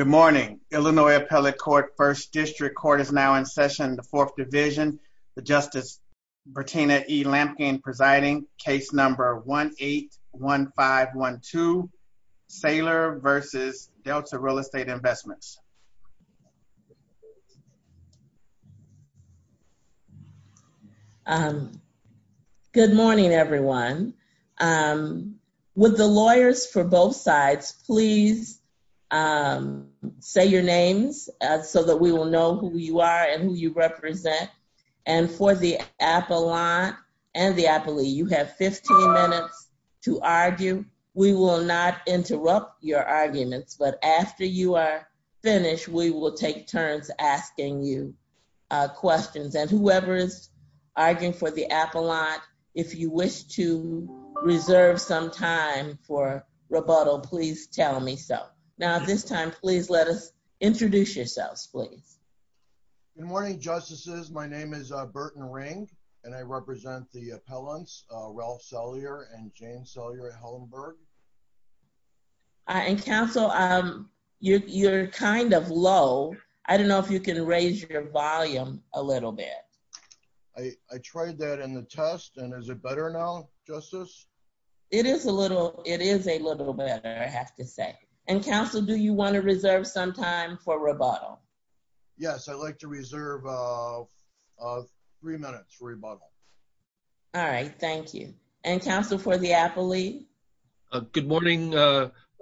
Good morning, Illinois Appellate Court, 1st District Court is now in session in the 4th Division. The Justice Bertina E. Lampkin presiding, case number 1-8-1512, Saylor v. Delta Real Estate Investments. Good morning, everyone. With the lawyers for both sides, please say your names so that we will know who you are and who you represent. And for the appellant and the appellee, you have 15 minutes to argue. We will not interrupt your arguments, but after you are finished, we will take turns asking you questions. And whoever is arguing for the appellant, if you wish to reserve some time for rebuttal, please tell me so. Now, at this time, please let us introduce yourselves, please. Good morning, Justices. My name is Burton Ring, and I represent the appellants Ralph Sellier and Jane Sellier at Helenburg. And counsel, you're kind of low. I don't know if you can raise your volume a little bit. I tried that in the test, and is it better now, Justice? It is a little better, I have to say. And counsel, do you want to reserve some time for rebuttal? Yes, I'd like to reserve three minutes for rebuttal. All right, thank you. And counsel for the appellee? Good morning,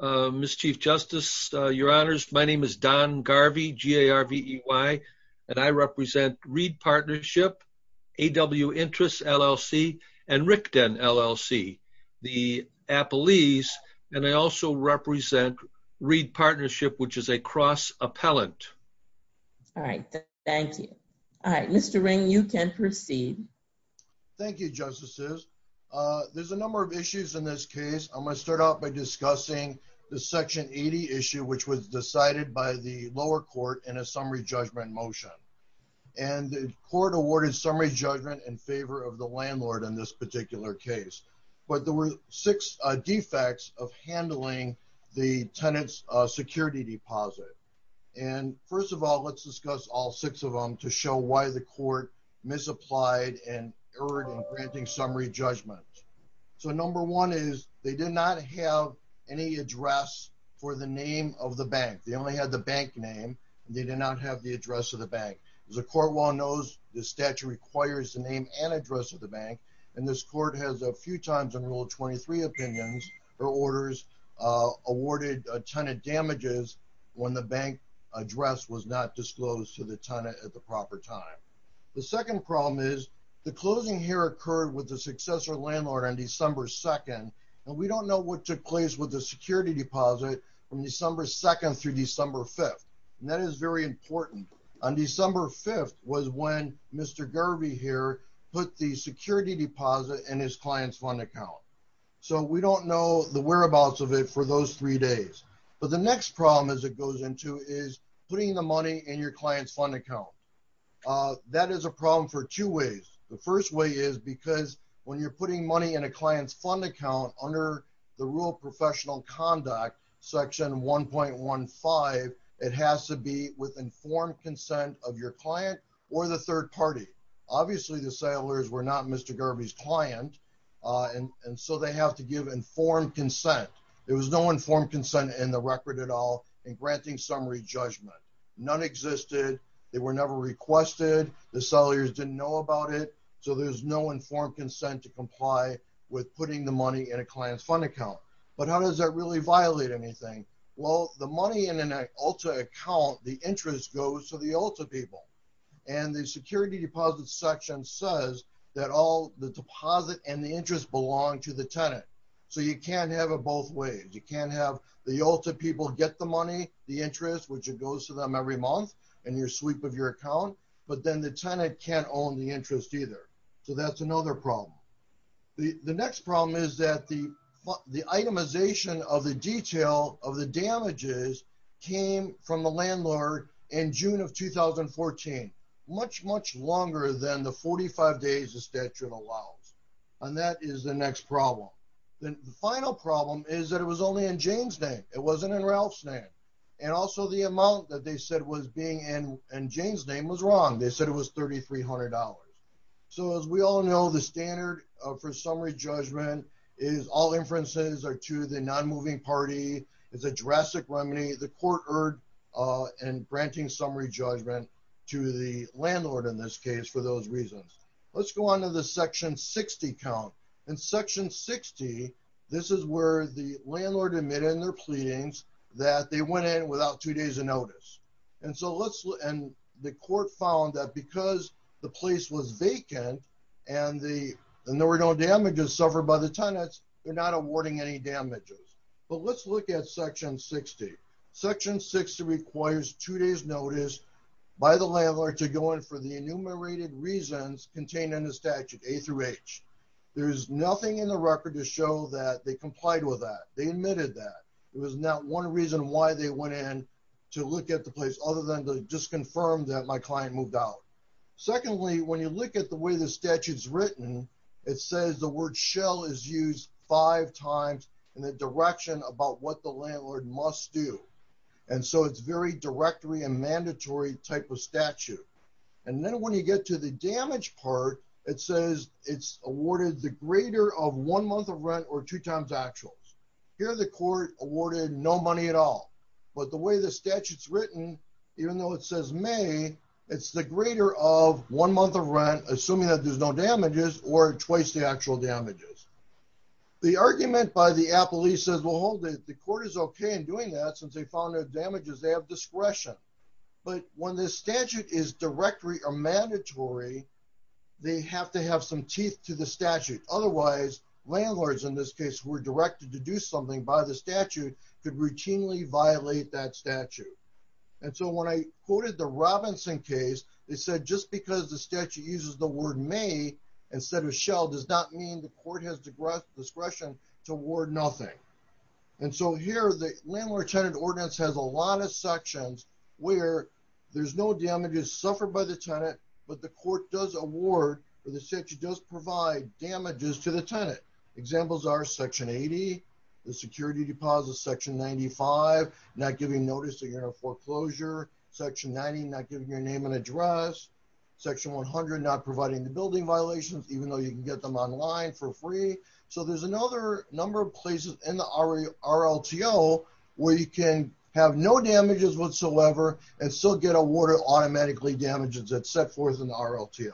Ms. Chief Justice, Your Honors. My name is Don Garvey, G-A-R-V-E-Y, and I represent Reed Partnership, AW Interest, LLC, and Rickden, LLC, the appellees. And I also represent Reed Partnership, which is a cross appellant. All right, thank you. All right, Mr. Ring, you can proceed. Thank you, Justices. There's a number of issues in this case. I'm going to start out by discussing the Section 80 issue, which was decided by the lower court in a summary judgment motion. And the court awarded summary judgment in favor of the landlord in this particular case. But there were six defects of handling the tenant's security deposit. And first of all, let's discuss all six of them to show why the court misapplied and erred in granting summary judgment. So number one is they did not have any address for the name of the bank. They only had the bank name, and they did not have the address of the bank. As the court well knows, the statute requires the name and address of the bank, and this court has a few times in Rule 23 opinions or orders awarded a tenant damages when the bank address was not disclosed to the tenant at the proper time. The second problem is the closing here occurred with the successor landlord on December 2nd, and we don't know what took place with the security deposit from December 2nd through December 5th. And that is very important. On December 5th was when Mr. Garvey here put the security deposit in his client's fund account. So we don't know the whereabouts of it for those three days. But the next problem as it goes into is putting the money in your client's fund account. That is a problem for two ways. The first way is because when you're putting money in a client's fund account under the Rural Professional Conduct Section 1.15, it has to be with informed consent of your client or the third party. Obviously, the sellers were not Mr. Garvey's client, and so they have to give informed consent. There was no informed consent in the record at all in granting summary judgment. None existed. They were never requested. The sellers didn't know about it. So there's no informed consent to comply with putting the money in a client's fund account. But how does that really violate anything? Well, the money in an ULTA account, the interest goes to the ULTA people. And the security deposit section says that all the deposit and the interest belong to the tenant. So you can't have it both ways. You can't have the ULTA people get the money, the interest, which it goes to them every month in your sweep of your account, but then the tenant can't own the interest either. So that's another problem. The next problem is that the itemization of the detail of the damages came from the landlord in June of 2014, much, much longer than the 45 days the statute allows. And that is the next problem. The final problem is that it was only in Jane's name. It wasn't in Ralph's name. And also the amount that they said was being in Jane's name was wrong. They said it was $3,300. So as we all know, the standard for summary judgment is all inferences are to the non-moving party. It's a drastic remedy. The court erred in granting summary judgment to the landlord in this case for those reasons. Let's go on to the section 60 count. In section 60, this is where the landlord admitted in their pleadings that they went in without two days of notice. And so let's look, and the court found that because the place was vacant and there were no damages suffered by the tenants, they're not awarding any damages. But let's look at section 60. Section 60 requires two days notice by the landlord to go in for the enumerated reasons contained in the statute, A through H. There is nothing in the record to show that they complied with that. They admitted that. It was not one reason why they went in to look at the place other than to just confirm that my client moved out. Secondly, when you look at the way the statute's written, it says the word shell is used five times in the direction about what the landlord must do. And so it's very directory and mandatory type of statute. And then when you get to the damage part, it says it's awarded the greater of one month of rent or two times actuals. Here the court awarded no money at all. But the way the statute's written, even though it says May, it's the greater of one month of rent, assuming that there's no damages, or twice the actual damages. The argument by the appellee says, well, hold it. The court is okay in doing that since they found their damages. They have discretion. But when this statute is directory or mandatory, they have to have some teeth to the statute. Otherwise, landlords in this case who were directed to do something by the statute could routinely violate that statute. And so when I quoted the Robinson case, they said just because the statute uses the word May instead of shell does not mean the court has discretion to award nothing. And so here the landlord-tenant ordinance has a lot of sections where there's no damages suffered by the tenant, but the court does award or the statute does provide damages to the tenant. Examples are section 80, the security deposit, section 95, not giving notice of your foreclosure, section 90, not giving your name and address, section 100, not providing the building violations, even though you can get them online for free. So there's another number of places in the RLTO where you can have no damages whatsoever and still get awarded automatically damages that's set forth in the RLTO.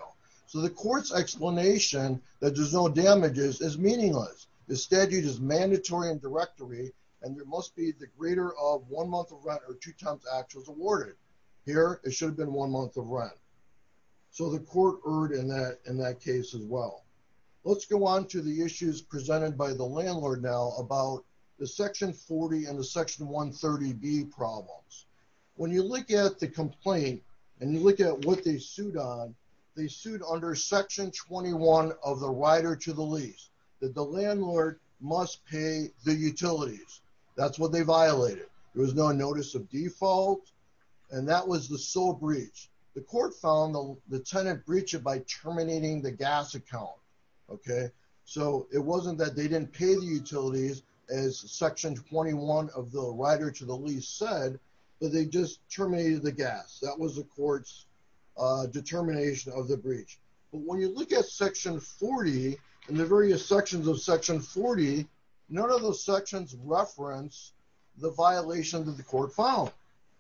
So the court's explanation that there's no damages is meaningless. The statute is mandatory and directory, and there must be the greater of one month of rent or two times actuals awarded. Here, it should have been one month of rent. So the court erred in that case as well. Let's go on to the issues presented by the landlord now about the section 40 and the section 130B problems. When you look at the complaint and you look at what they sued on, they sued under section 21 of the Rider to the Lease, that the landlord must pay the utilities. That's what they violated. There was no notice of default, and that was the sole breach. The court found the tenant breached it by terminating the gas account, okay? So it wasn't that they didn't pay the utilities as section 21 of the Rider to the Lease said, but they just terminated the gas. That was the court's determination of the breach. But when you look at section 40 and the various sections of section 40, none of those sections reference the violation that the court found.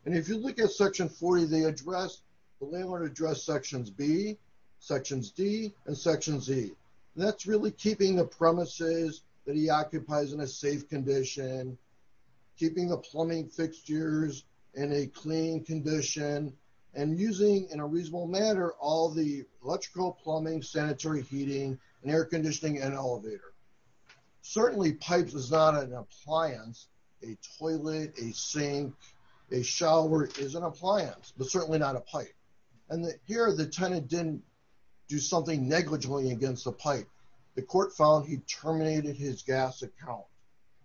And if you look at section 40, they address, the landlord addressed sections B, sections D, and sections E. That's really keeping the premises that he occupies in a safe condition, keeping the plumbing fixtures in a clean condition, and using, in a reasonable manner, all the electrical plumbing, sanitary heating, and air conditioning, and elevator. Certainly, pipes is not an appliance. A toilet, a sink, a shower is an appliance, but certainly not a pipe. And here, the tenant didn't do something negligently against the pipe. The court found he terminated his gas account.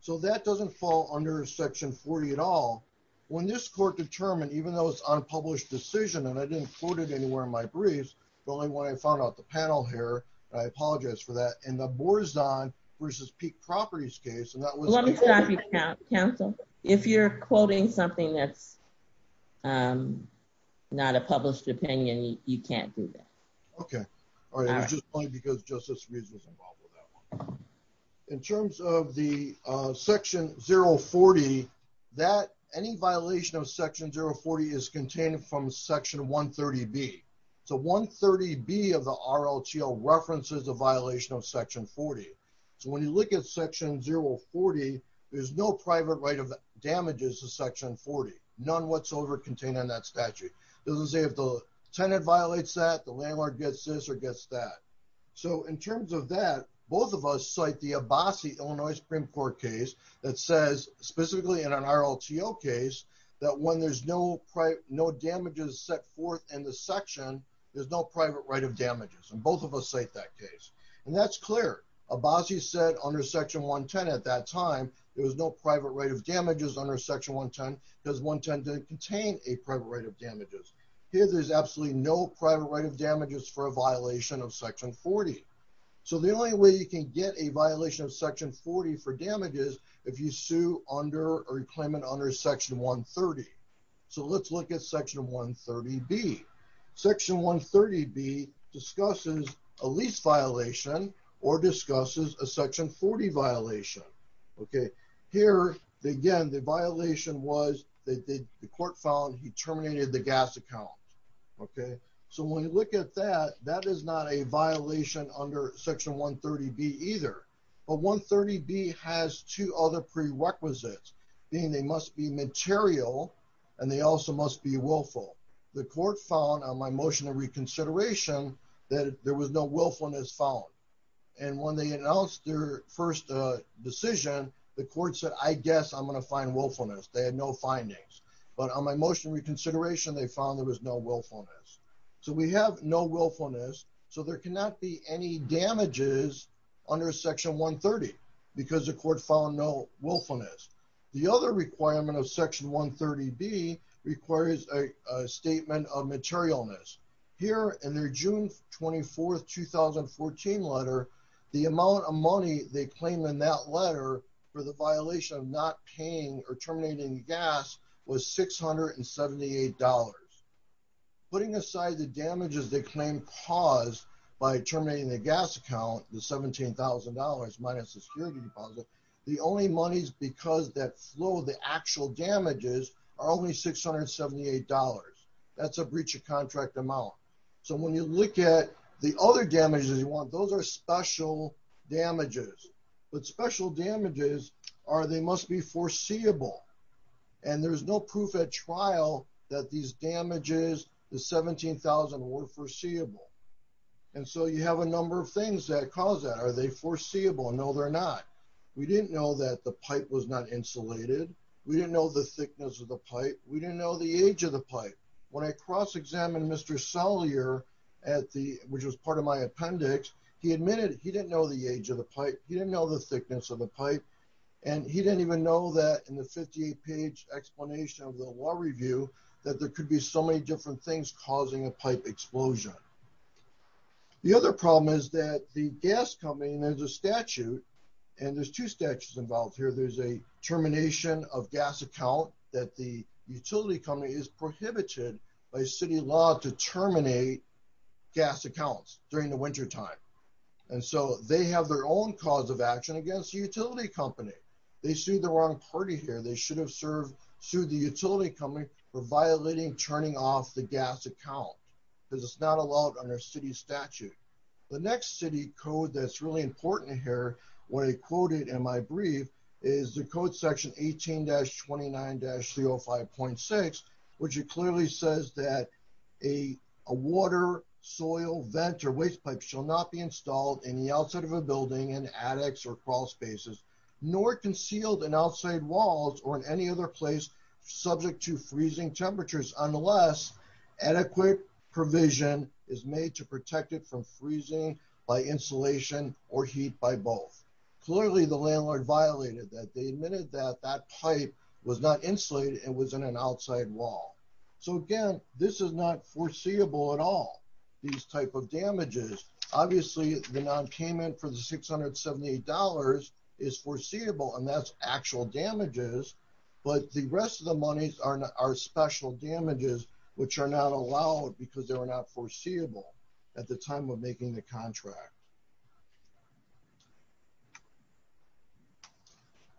So that doesn't fall under section 40 at all. When this court determined, even though it's unpublished decision, and I didn't quote it anywhere in my briefs, but only when I found out the panel here, I apologize for that, in the Borzon versus Peak Properties case, and that was- In my best opinion, you can't do that. Okay. All right, it's just because Justice Reed was involved with that one. In terms of the section 040, that, any violation of section 040 is contained from section 130B. So 130B of the RLTO references a violation of section 40. So when you look at section 040, there's no private right of damages to section 40, none whatsoever contained in that statute. It doesn't say if the tenant violates that, the landlord gets this or gets that. So in terms of that, both of us cite the Abbasi, Illinois Supreme Court case, that says, specifically in an RLTO case, that when there's no damages set forth in the section, there's no private right of damages, and both of us cite that case. And that's clear. Abbasi said under section 110 at that time, there was no private right of damages under section 110 because 110 didn't contain a private right of damages. Here, there's absolutely no private right of damages for a violation of section 40. So the only way you can get a violation of section 40 for damages, if you sue under or claim it under section 130. So let's look at section 130B. Section 130B discusses a lease violation or discusses a section 40 violation. Okay. Here, again, the violation was that the court found he terminated the gas account. Okay. So when you look at that, that is not a violation under section 130B either. But 130B has two other prerequisites, being they must be material and they also must be willful. The court found on my motion of reconsideration that there was no willfulness found. And when they announced their first decision, the court said, I guess I'm going to find willfulness. They had no findings. But on my motion reconsideration, they found there was no willfulness. So we have no willfulness. So there cannot be any damages under section 130 because the court found no willfulness. The other requirement of section 130B requires a statement of materialness. Here in their June 24th, 2014 letter, the amount of money they claim in that letter for the violation of not paying or terminating gas was $678. Putting aside the damages they claim caused by terminating the gas account, the $17,000 minus the security deposit, the only monies because that flow, the actual damages are only $678. That's a breach of contract amount. So when you look at the other damages you want, those are special damages. But special damages are they must be foreseeable. And there's no proof at trial that these damages, the 17,000 were foreseeable. And so you have a number of things that cause that. Are they foreseeable? No, they're not. We didn't know that the pipe was not insulated. We didn't know the thickness of the pipe. We didn't know the age of the pipe. When I cross-examined Mr. Sellier, which was part of my appendix, he admitted he didn't know the age of the pipe. He didn't know the thickness of the pipe. And he didn't even know that in the 58-page explanation of the law review that there could be so many different things causing a pipe explosion. The other problem is that the gas company, and there's a statute, and there's two statutes involved here. There's a termination of gas account that the utility company is prohibited by city law to terminate gas accounts during the wintertime. And so they have their own cause of action against the utility company. They sued the wrong party here. They should have sued the utility company for violating turning off the gas account because it's not allowed under city statute. The next city code that's really important here, what I quoted in my brief, is the code section 18-29-305.6, which it clearly says that a water, soil, vent, or waste pipe shall not be installed in the outside of a building in attics or crawl spaces, nor concealed in outside walls or in any other place subject to freezing temperatures unless adequate provision is made to protect it from freezing by insulation or heat by both. Clearly, the landlord violated that. They admitted that that pipe was not insulated and was in an outside wall. So again, this is not foreseeable at all, these type of damages. Obviously, the nonpayment for the $678 is foreseeable, and that's actual damages. But the rest of the monies are special damages, which are not allowed because they were not foreseeable at the time of making the contract.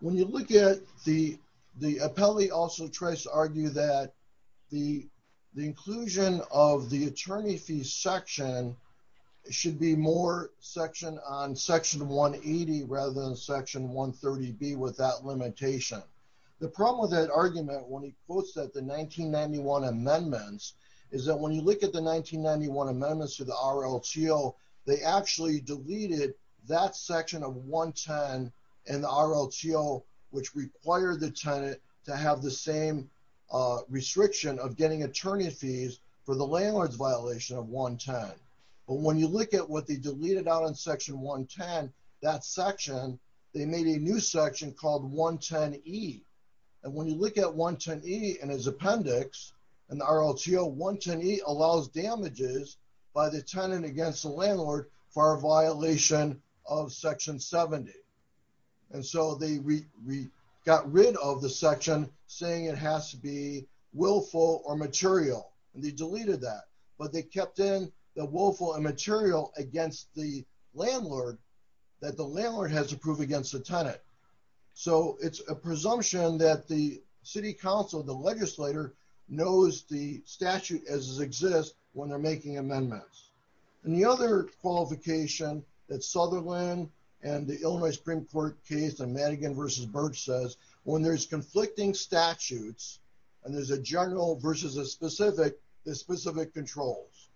When you look at the appellee also tries to argue that the inclusion of the attorney fee section should be more section on Section 180 rather than Section 130B with that limitation. The problem with that argument when he quotes that the 1991 amendments is that when you look at the 1991 amendments to the RLTO, they actually deleted that section of 110 in the RLTO, which required the tenant to have the same restriction of getting attorney fees for the landlord's violation of 110. But when you look at what they deleted out in Section 110, that section, they made a new section called 110E. And when you look at 110E in his appendix in the RLTO, 110E allows damages by the tenant against the landlord for a violation of Section 70. And so they got rid of the section saying it has to be willful or material, and they deleted that. But they kept in the willful and material against the landlord that the landlord has to prove against the tenant. So it's a presumption that the city council, the legislator, knows the statute as it exists when they're making amendments. And the other qualification that Sutherland and the Illinois Supreme Court case in Madigan versus Birch says, when there's conflicting statutes and there's a general versus a specific, there's specific controls.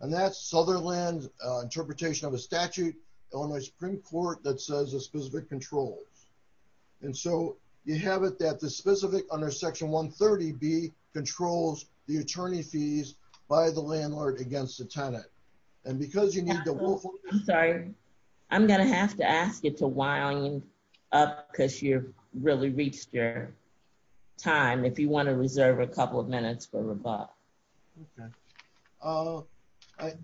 And that's Sutherland's interpretation of a statute, Illinois Supreme Court, that says a specific controls. And so you have it that the specific under Section 130B controls the attorney fees by the landlord against the tenant. And because you need the willful- I'm sorry. I'm going to have to ask you to wind up because you've really reached your time if you want to reserve a couple of minutes for rebutt.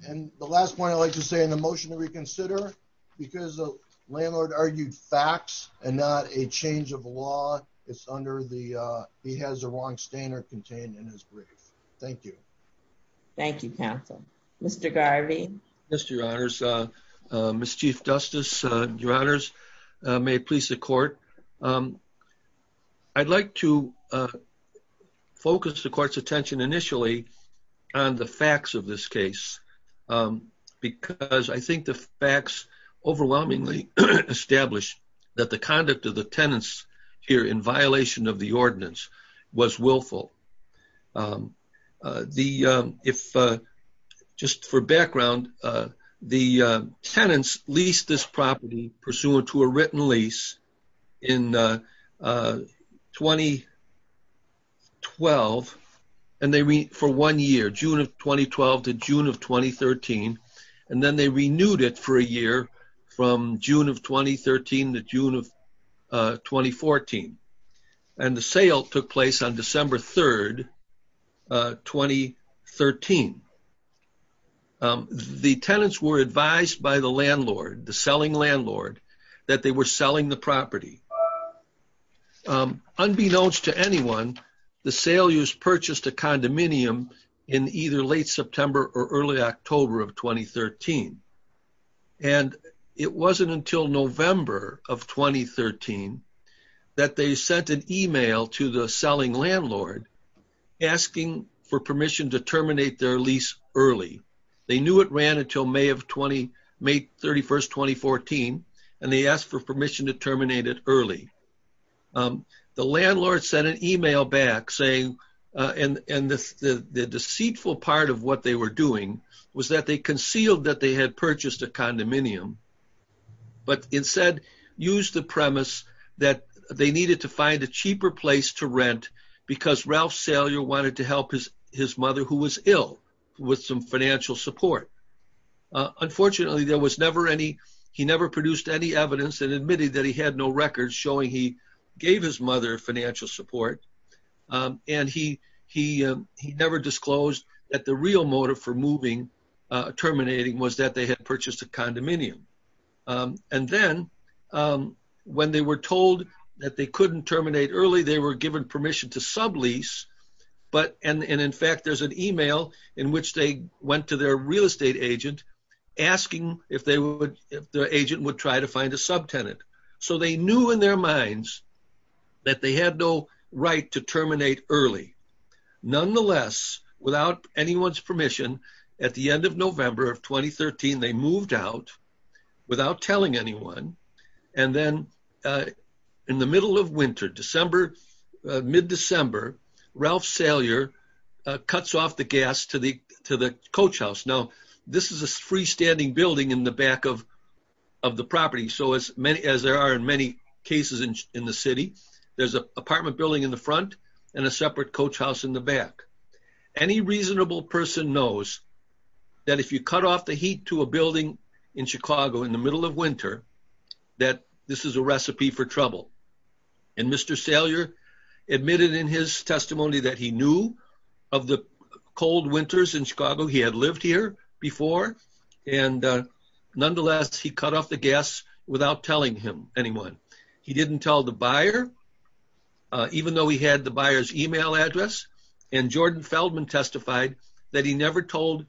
And the last point I'd like to say in the motion to reconsider, because the landlord argued facts and not a change of law, it's under the he has the wrong standard contained in his brief. Thank you. Thank you, counsel. Mr. Garvey? Yes, your honors. Miss Chief Justice, your honors, may it please the court. I'd like to focus the court's attention initially on the facts of this case because I think the facts overwhelmingly establish that the conduct of the tenants here in violation of the ordinance was willful. Just for background, the tenants leased this property pursuant to a written lease in 2012 for one year, June of 2012 to June of 2013. And then they renewed it for a year from June of 2013 to June of 2014. And the sale took place on December 3, 2013. The tenants were advised by the landlord, the selling landlord, that they were selling the property. Unbeknownst to anyone, the sale use purchased a condominium in either late September or early October of 2013. And it wasn't until November of 2013 that they sent an email to the selling landlord asking for permission to terminate their lease early. They knew it ran until May 31, 2014, and they asked for permission to terminate it early. The landlord sent an email back saying, and the deceitful part of what they were doing was that they concealed that they had purchased a condominium, but instead used the premise that they needed to find a cheaper place to rent because Ralph Salyer wanted to help his mother who was ill with some financial support. Unfortunately, there was never any, he never produced any evidence and admitted that he had no records showing he gave his mother financial support. And he never disclosed that the real motive for moving, terminating, was that they had purchased a condominium. And then when they were told that they couldn't terminate early, they were given permission to sublease. But, and in fact, there's an email in which they went to their real estate agent asking if their agent would try to find a subtenant. So they knew in their minds that they had no right to terminate early. Nonetheless, without anyone's permission, at the end of November of 2013, they moved out without telling anyone. And then in the middle of winter, December, mid-December, Ralph Salyer cuts off the gas to the coach house. Now, this is a freestanding building in the back of the property. So as many, as there are in many cases in the city, there's an apartment building in the front and a separate coach house in the back. Any reasonable person knows that if you cut off the heat to a building in Chicago in the middle of winter, that this is a recipe for trouble. And Mr. Salyer admitted in his testimony that he knew of the cold winters in Chicago. He had lived here before. And nonetheless, he cut off the gas without telling anyone. He didn't tell the buyer, even though he had the buyer's email address. And Jordan Feldman testified that he never told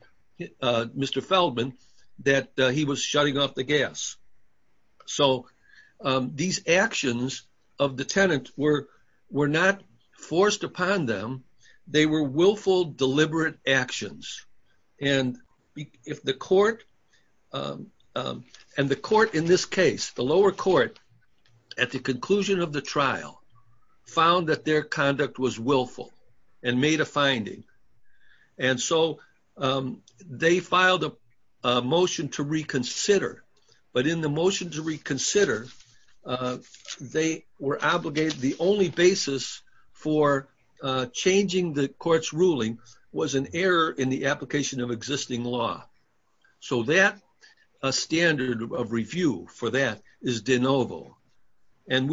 Mr. Feldman that he was shutting off the gas. So these actions of the tenant were not forced upon them. They were willful, deliberate actions. And if the court, and the court in this case, the lower court, at the conclusion of the trial, found that their conduct was willful and made a finding. And so they filed a motion to reconsider. But in the motion to reconsider, they were obligated, the only basis for changing the court's ruling was an error in the application of existing law. So that standard of review for that is de novo. And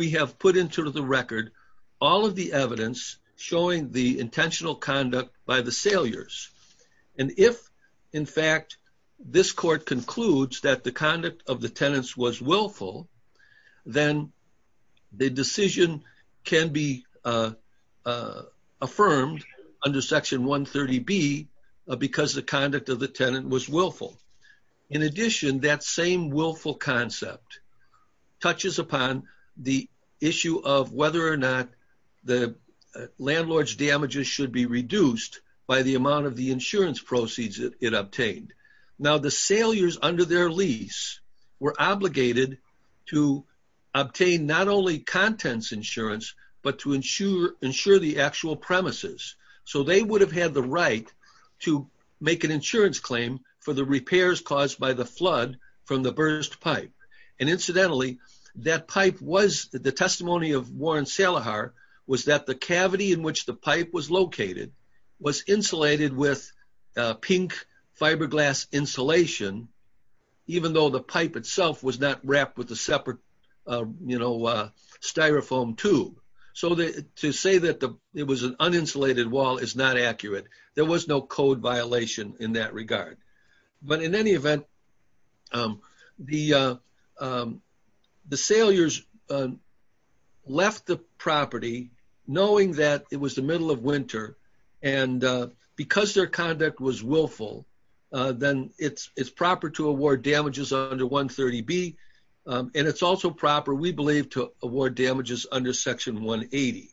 if, in fact, this court concludes that the conduct of the tenants was willful, then the decision can be affirmed under Section 130B because the conduct of the tenant was willful. In addition, that same willful concept touches upon the issue of whether or not the landlord's damages should be reduced by the amount of the insurance proceeds it obtained. Now, the sailors under their lease were obligated to obtain not only contents insurance, but to ensure the actual premises. So they would have had the right to make an insurance claim for the repairs caused by the flood from the burst pipe. And incidentally, that pipe was the testimony of Warren Salihar was that the cavity in which the pipe was located was insulated with pink fiberglass insulation, even though the pipe itself was not wrapped with a separate styrofoam tube. So to say that it was an uninsulated wall is not accurate. There was no code violation in that regard. But in any event, the sailors left the property knowing that it was the middle of winter. And because their conduct was willful, then it's proper to award damages under 130B. And it's also proper, we believe, to award damages under Section 180.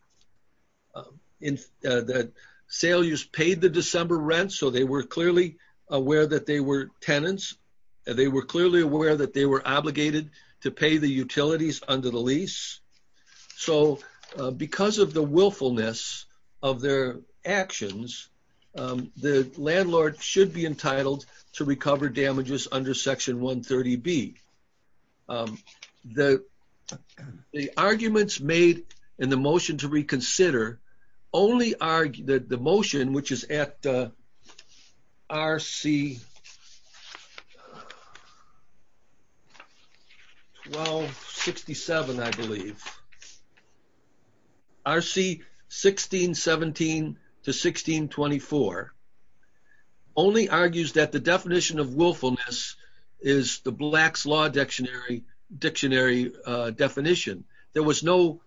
The sailors paid the December rent. So they were clearly aware that they were tenants. They were clearly aware that they were obligated to pay the utilities under the lease. So because of the willfulness of their actions, the landlord should be entitled to recover damages under Section 130B. The arguments made in the motion to reconsider only argue that the motion, which is at RC 1267, I believe, RC 1617 to 1624, only argues that the definition of willfulness is the Black's Law Dictionary definition. There was no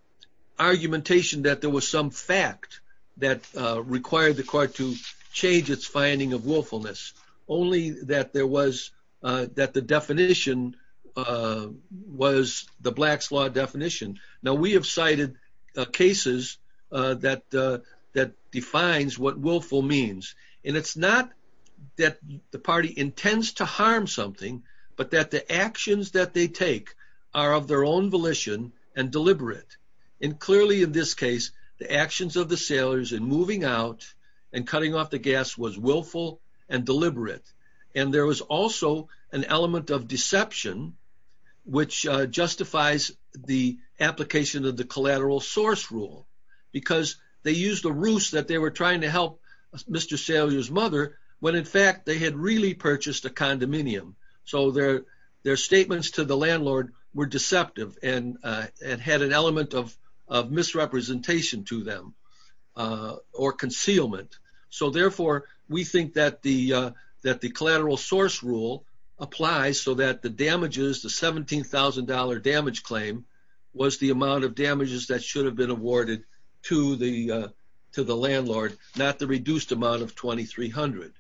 argumentation that there was some fact that required the court to change its finding of willfulness, only that the definition was the Black's Law definition. Now, we have cited cases that defines what willful means. And it's not that the party intends to harm something, but that the actions that they take are of their own volition and deliberate. And clearly in this case, the actions of the sailors in moving out and cutting off the gas was willful and deliberate. And there was also an element of deception, which justifies the application of the collateral source rule. Because they used a ruse that they were trying to help Mr. Sailor's mother, when in fact they had really purchased a condominium. So their statements to the landlord were deceptive and had an element of misrepresentation to them or concealment. So therefore, we think that the collateral source rule applies so that the damages, the $17,000 damage claim, was the amount of damages that should have been awarded to the landlord, not the reduced amount of $2,300.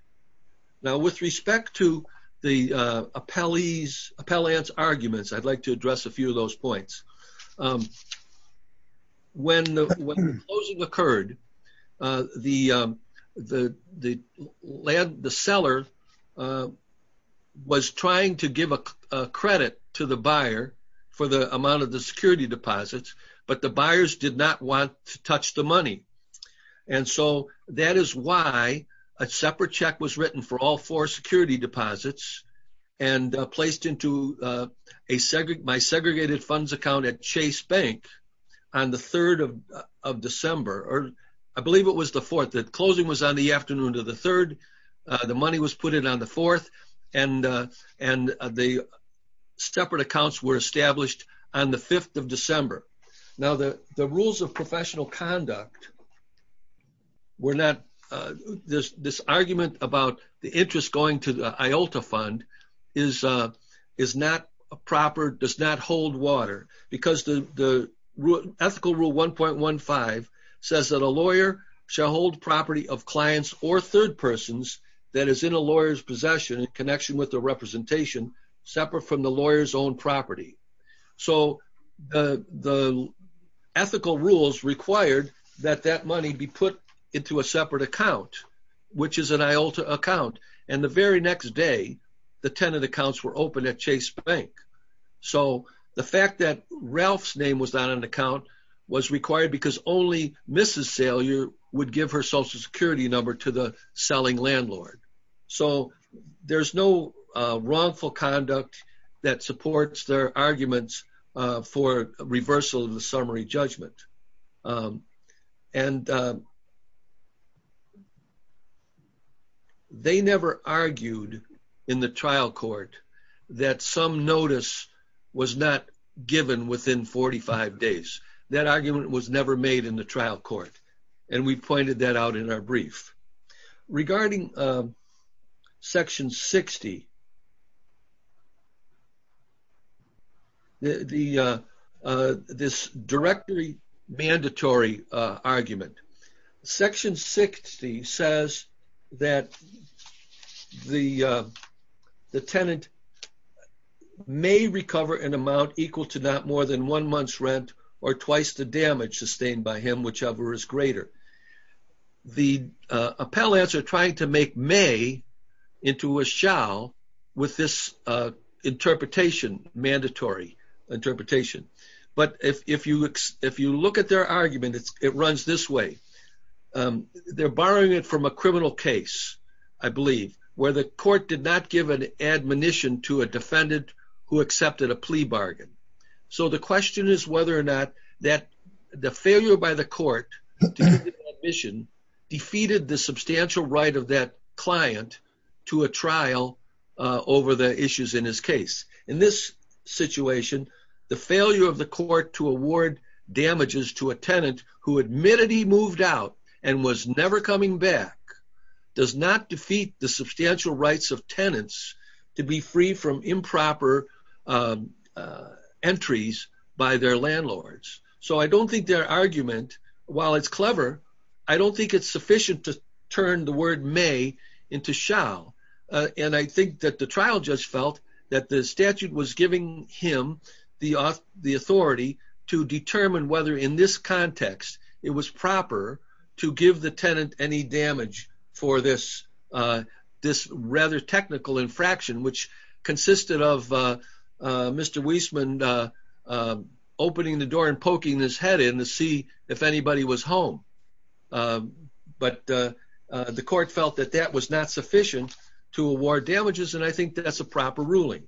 Now, with respect to the appellant's arguments, I'd like to address a few of those points. When the closing occurred, the seller was trying to give a credit to the buyer for the amount of the security deposits, but the buyers did not want to touch the money. And so that is why a separate check was written for all four security deposits and placed into my segregated funds account at Chase Bank on the 3rd of December, or I believe it was the 4th. The closing was on the afternoon of the 3rd. The money was put in on the 4th. And the separate accounts were established on the 5th of December. Now, the rules of professional conduct were not... This argument about the interest going to the IOLTA fund is not proper, does not hold water because the ethical rule 1.15 says that a lawyer shall hold property of clients or third persons that is in a lawyer's possession in connection with the representation separate from the lawyer's own property. So the ethical rules required that that money be put into a separate account, which is an IOLTA account. And the very next day, the tenant accounts were opened at Chase Bank. So the fact that Ralph's name was not on the account was required because only Mrs. Salyer would give her social security number to the selling landlord. So there's no wrongful conduct that supports their arguments for reversal of the summary judgment. And they never argued in the trial court that some notice was not given within 45 days. That argument was never made in the trial court. And we pointed that out in our brief. Regarding Section 60, this directory mandatory argument. Section 60 says that the tenant may recover an amount equal to not more than one month's rent or twice the damage sustained by him, whichever is greater. The appellants are trying to make may into a shall with this interpretation, mandatory interpretation. But if you look at their argument, it runs this way. They're borrowing it from a criminal case, I believe, where the court did not give an admonition to a defendant who accepted a plea bargain. So the question is whether or not the failure by the court to give an admission defeated the substantial right of that client to a trial over the issues in his case. In this situation, the failure of the court to award damages to a tenant who admitted he moved out and was never coming back does not defeat the substantial rights of tenants to be free from improper entries by their landlords. So I don't think their argument, while it's clever, I don't think it's sufficient to turn the word may into shall. And I think that the trial just felt that the statute was giving him the authority to determine whether in this context it was proper to give the tenant any damage for this rather technical infraction, which consisted of Mr. Weisman opening the door and poking his head in to see if anybody was home. But the court felt that that was not sufficient to award damages, and I think that's a proper ruling.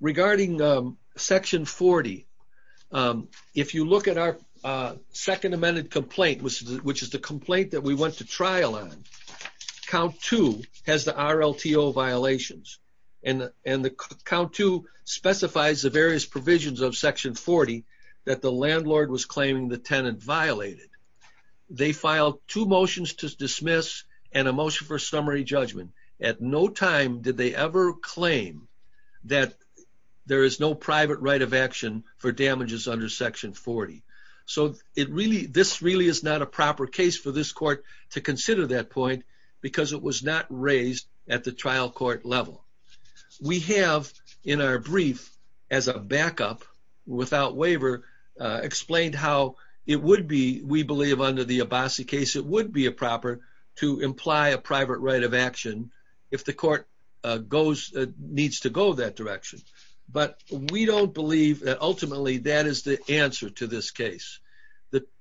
Regarding Section 40, if you look at our second amended complaint, which is the complaint that we went to trial on, Count 2 has the RLTO violations, and Count 2 specifies the various provisions of Section 40 that the landlord was claiming the tenant violated. They filed two motions to dismiss and a motion for summary judgment. At no time did they ever claim that there is no private right of action for damages under Section 40. So this really is not a proper case for this court to consider that point because it was not raised at the trial court level. We have, in our brief, as a backup, without waiver, explained how it would be, we believe under the Abbasi case, it would be proper to imply a private right of action if the court needs to go that direction. But we don't believe that ultimately that is the answer to this case.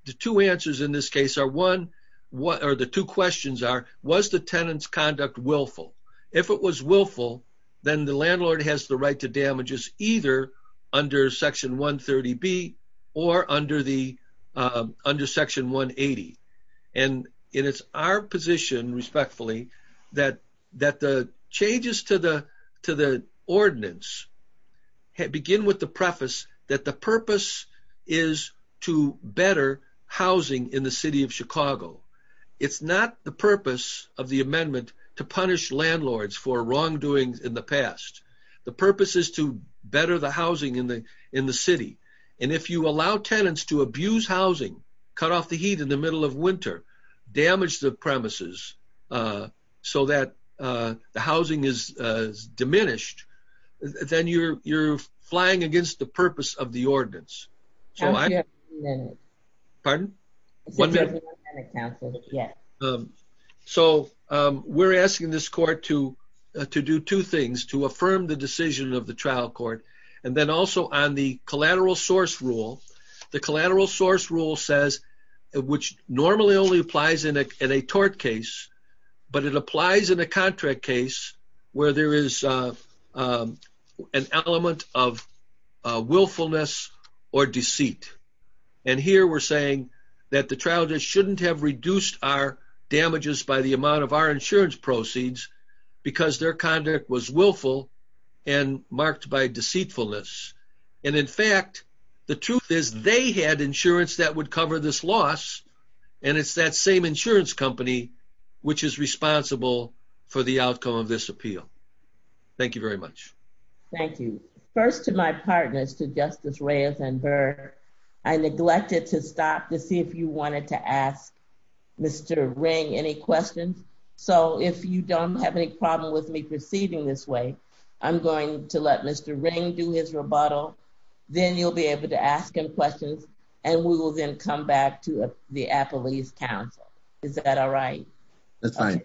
The two answers in this case are one, or the two questions are, was the tenant's conduct willful? If it was willful, then the landlord has the right to damages either under Section 130B or under Section 180. And it is our position, respectfully, that the changes to the ordinance begin with the preface that the purpose is to better housing in the city of Chicago. It's not the purpose of the amendment to punish landlords for wrongdoings in the past. The purpose is to better the housing in the city. And if you allow tenants to abuse housing, cut off the heat in the middle of winter, damage the premises so that the housing is diminished, then you're flying against the purpose of the ordinance. So I... Pardon? One minute. So we're asking this court to do two things, to affirm the decision of the trial court, and then also on the collateral source rule. The collateral source rule says, which normally only applies in a tort case, but it applies in a contract case where there is an element of willfulness or deceit. And here we're saying that the trial judge shouldn't have reduced our damages by the amount of our insurance proceeds because their conduct was willful and marked by deceitfulness. And in fact, the truth is they had insurance that would cover this loss, and it's that same insurance company which is responsible for the outcome of this appeal. Thank you very much. Thank you. First, to my partners, to Justice Reyes and Burr, I neglected to stop to see if you wanted to ask Mr. Ring any questions. So if you don't have any problem with me proceeding this way, I'm going to let Mr. Ring do his rebuttal. Then you'll be able to ask him questions, and we will then come back to the Appalachian Council. Is that all right? That's fine.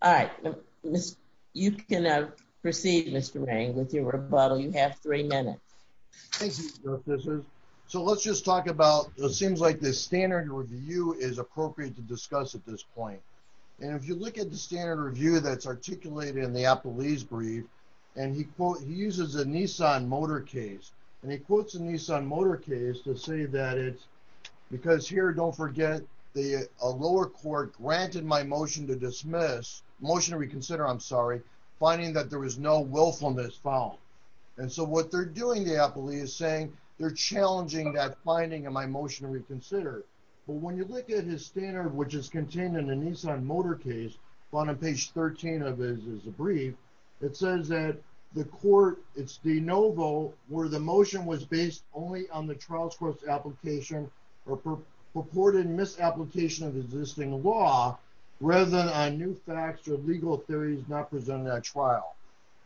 All right. You can proceed, Mr. Ring, with your rebuttal. You have three minutes. Thank you, Justice Reyes. So let's just talk about, it seems like the standard review is appropriate to discuss at this point. And if you look at the standard review that's articulated in the Appalachian brief, and he uses a Nissan motor case, and he quotes a Nissan motor case to say that it's, because here, don't forget, the lower court granted my motion to dismiss, motion to reconsider, I'm sorry, finding that there was no willfulness found. And so what they're doing, the Appalachian is saying, they're challenging that finding in my motion to reconsider. But when you look at his standard, which is contained in the Nissan motor case, on page 13 of his brief, it says that the court, it's de novo, where the motion was based only on the trial's first application or purported misapplication of existing law, rather than on new facts or legal theories not presented at trial.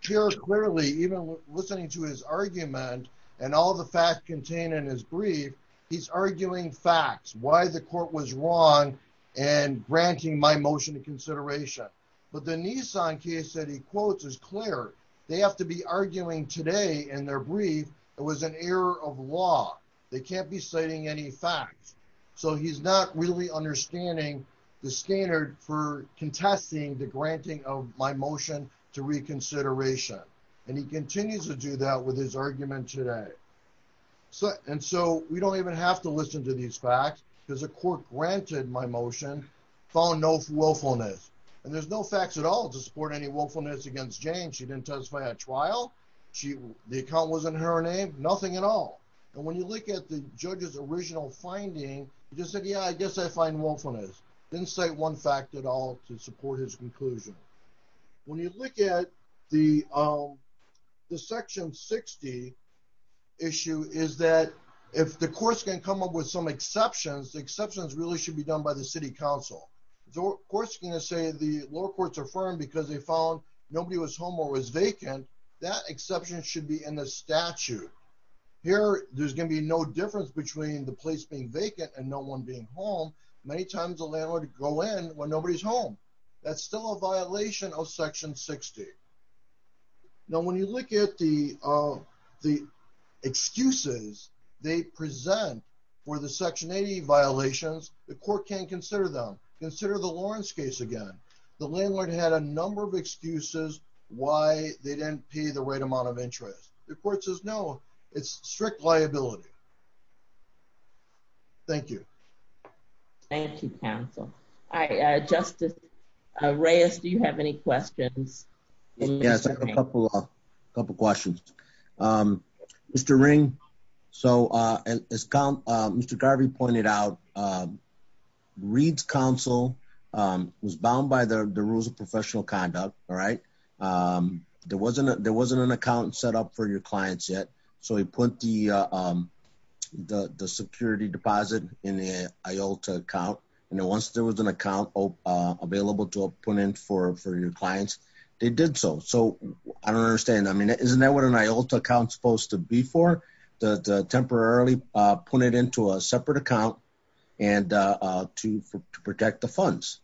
Here, clearly, even listening to his argument and all the facts contained in his brief, he's arguing facts, why the court was wrong and granting my motion to consideration. But the Nissan case that he quotes is clear. They have to be arguing today in their brief, it was an error of law. They can't be citing any facts. So he's not really understanding the standard for contesting the granting of my motion to reconsideration. And he continues to do that with his argument today. So, and so we don't even have to listen to these facts because the court granted my motion following no willfulness and there's no facts at all to support any willfulness against Jane. She didn't testify at trial. The account wasn't her name, nothing at all. And when you look at the judge's original finding, he just said, yeah, I guess I find willfulness. Didn't say one fact at all to support his conclusion. When you look at the section 60, issue is that if the court's gonna come up with some exceptions, the exceptions really should be done by the city council. The court's gonna say the lower courts are firm because they found nobody was home or was vacant. That exception should be in the statute. Here, there's gonna be no difference between the place being vacant and no one being home. Many times a landlord go in when nobody's home. That's still a violation of section 60. Now, when you look at the excuses they present for the section 80 violations, the court can't consider them. Consider the Lawrence case again. The landlord had a number of excuses why they didn't pay the right amount of interest. The court says, no, it's strict liability. Thank you. Thank you, counsel. Justice Reyes, do you have any questions? Yes, I have a couple of questions. Mr. Ring, so as Mr. Garvey pointed out, Reed's counsel was bound by the rules of professional conduct, all right? There wasn't an account set up for your clients yet. So he put the security deposit in the IOLTA account. And then once there was an account available to put in for your clients, they did so. So I don't understand. I mean, isn't that what an IOLTA account is supposed to be for? To temporarily put it into a separate account and to protect the funds?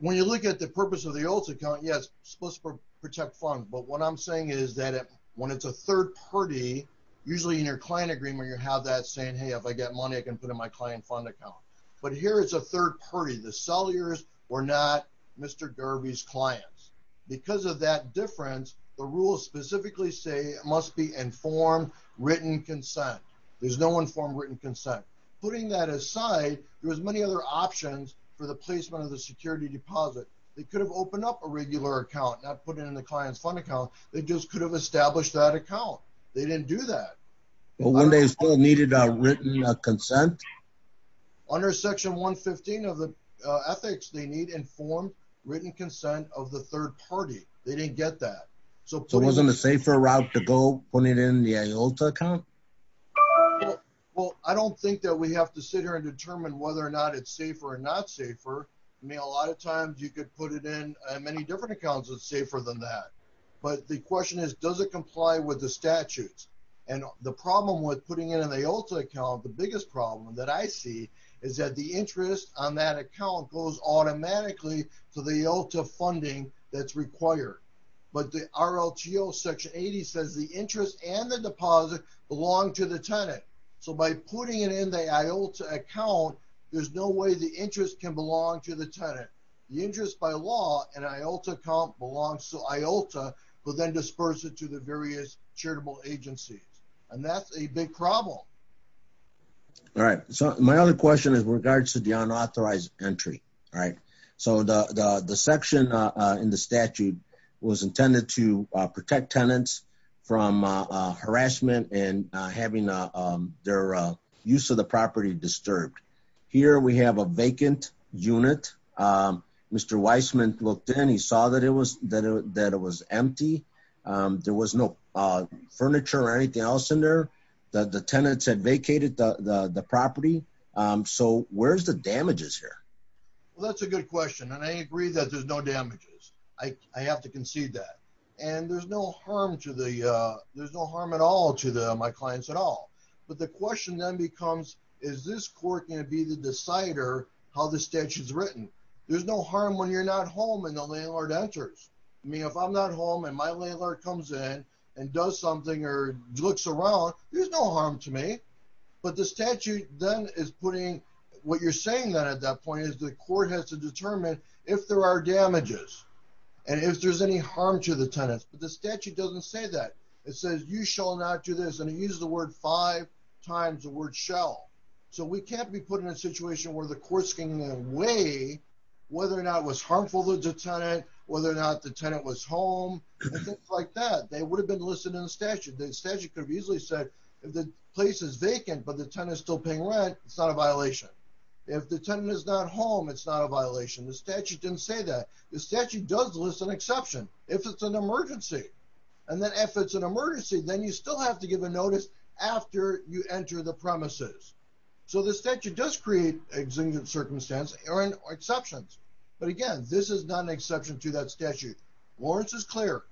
When you look at the purpose of the IOLTA account, yes, it's supposed to protect funds. But what I'm saying is that when it's a third party, usually in your client agreement, you have that saying, hey, if I get money, I can put it in my client fund account. But here it's a third party. The sellers were not Mr. Garvey's clients. Because of that difference, the rules specifically say it must be informed written consent. There's no informed written consent. Putting that aside, there was many other options for the placement of the security deposit. They could have opened up a regular account, not put it in the client's fund account. They just could have established that account. They didn't do that. But when they still needed a written consent? Under section 115 of the ethics, they need informed written consent of the third party. They didn't get that. So it wasn't a safer route to go putting it in the IOLTA account? Well, I don't think that we have to sit here and determine whether or not it's safer or not safer. I mean, a lot of times you could put it in many different accounts that's safer than that. But the question is, does it comply with the statutes? And the problem with putting it in the IOLTA account, the biggest problem that I see is that the interest on that account goes automatically to the IOLTA funding that's required. But the RLTO section 80 says the interest and the deposit belong to the tenant. So by putting it in the IOLTA account, there's no way the interest can belong to the tenant. The interest by law and IOLTA account belongs to IOLTA, but then disperse it to the various charitable agencies. And that's a big problem. All right, so my other question is regards to the unauthorized entry, right? So the section in the statute was intended to protect tenants from harassment and having their use of the property disturbed. Here we have a vacant unit. Mr. Weissman looked in, he saw that it was empty. There was no furniture or anything else in there. The tenants had vacated the property. So where's the damages here? Well, that's a good question. And I agree that there's no damages. I have to concede that. And there's no harm at all to my clients at all. But the question then becomes, is this court gonna be the decider how the statute is written? There's no harm when you're not home and the landlord enters. I mean, if I'm not home and my landlord comes in and does something or looks around, there's no harm to me. But the statute then is putting, what you're saying then at that point is the court has to determine if there are damages and if there's any harm to the tenants. But the statute doesn't say that. It says, you shall not do this. And it uses the word five times the word shall. So we can't be put in a situation where the court's gonna weigh whether or not it was harmful to the tenant, whether or not the tenant was home and things like that. They would have been listed in the statute. The statute could have easily said, if the place is vacant, but the tenant is still paying rent, it's not a violation. If the tenant is not home, it's not a violation. The statute didn't say that. The statute does list an exception if it's an emergency. And then if it's an emergency, then you still have to give a notice after you enter the premises. So the statute does create an exigent circumstance or exceptions. But again, this is not an exception to that statute. Lawrence is clear.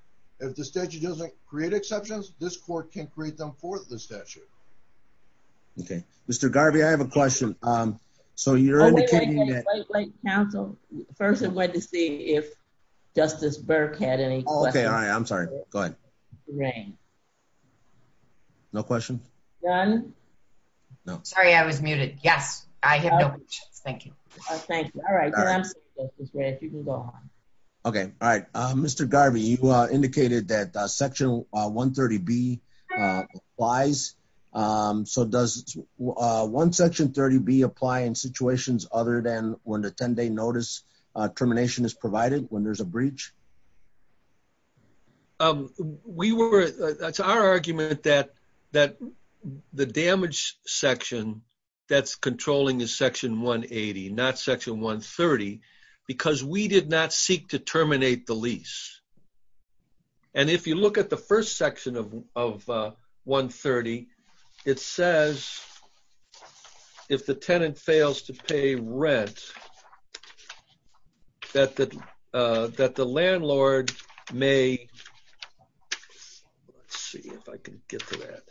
If the statute doesn't create exceptions, this court can create them for the statute. Okay. Mr. Garvey, I have a question. So you're indicating that- Wait, wait, wait, wait, counsel. First, I wanted to see if Justice Burke had any questions. Okay, all right, I'm sorry. Go ahead. Great. No questions? None? No. Sorry, I was muted. Yes, I have no questions. Thank you. Thank you. All right, then I'm sorry, Justice Red, you can go on. Okay, all right. Mr. Garvey, you indicated that section 130B applies. So does one section 30B apply in situations other than when the 10-day notice termination is provided when there's a breach? That's our argument that the damage section that's controlling is section 180, not section 130, because we did not seek to terminate the lease. And if you look at the first section of 130, it says if the tenant fails to pay rent, that the landlord may... Let's see if I can get to that.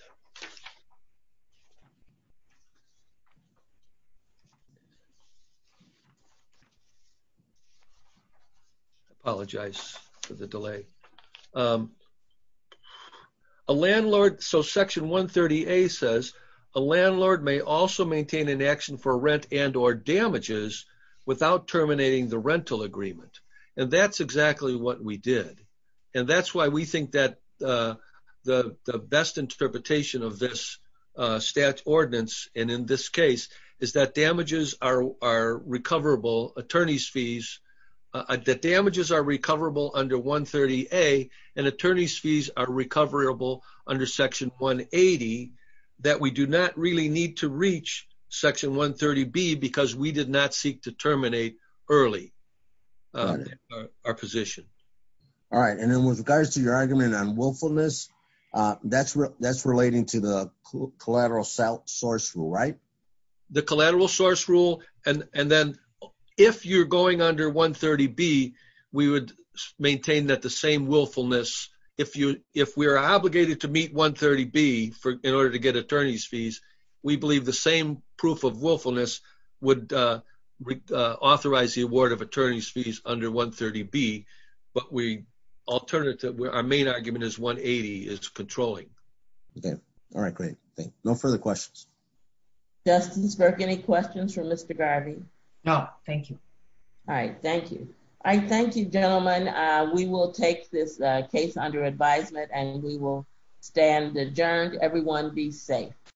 I apologize for the delay. A landlord, so section 130A says a landlord may also maintain an action for rent and or damages without terminating the rental agreement. And that's exactly what we did. And that's why we think that the best interpretation of this stat ordinance, and in this case, is that damages are recoverable, attorneys fees, that damages are recoverable under 130A, and attorneys fees are recoverable under section 180, that we do not really need to reach section 130B because we did not seek to terminate early our position. All right, and then with regards to your argument on willfulness, that's relating to the collateral source rule, right? The collateral source rule, and then if you're going under 130B, we would maintain that the same willfulness, if we're obligated to meet 130B in order to get attorneys fees, we believe the same proof of willfulness would authorize the award of attorneys fees under 130B. But we alternative, our main argument is 180 is controlling. Okay, all right, great, thank you. No further questions. Justice Burke, any questions for Mr. Garvey? No, thank you. All right, thank you. I thank you, gentlemen. We will take this case under advisement and we will stand adjourned. Everyone be safe.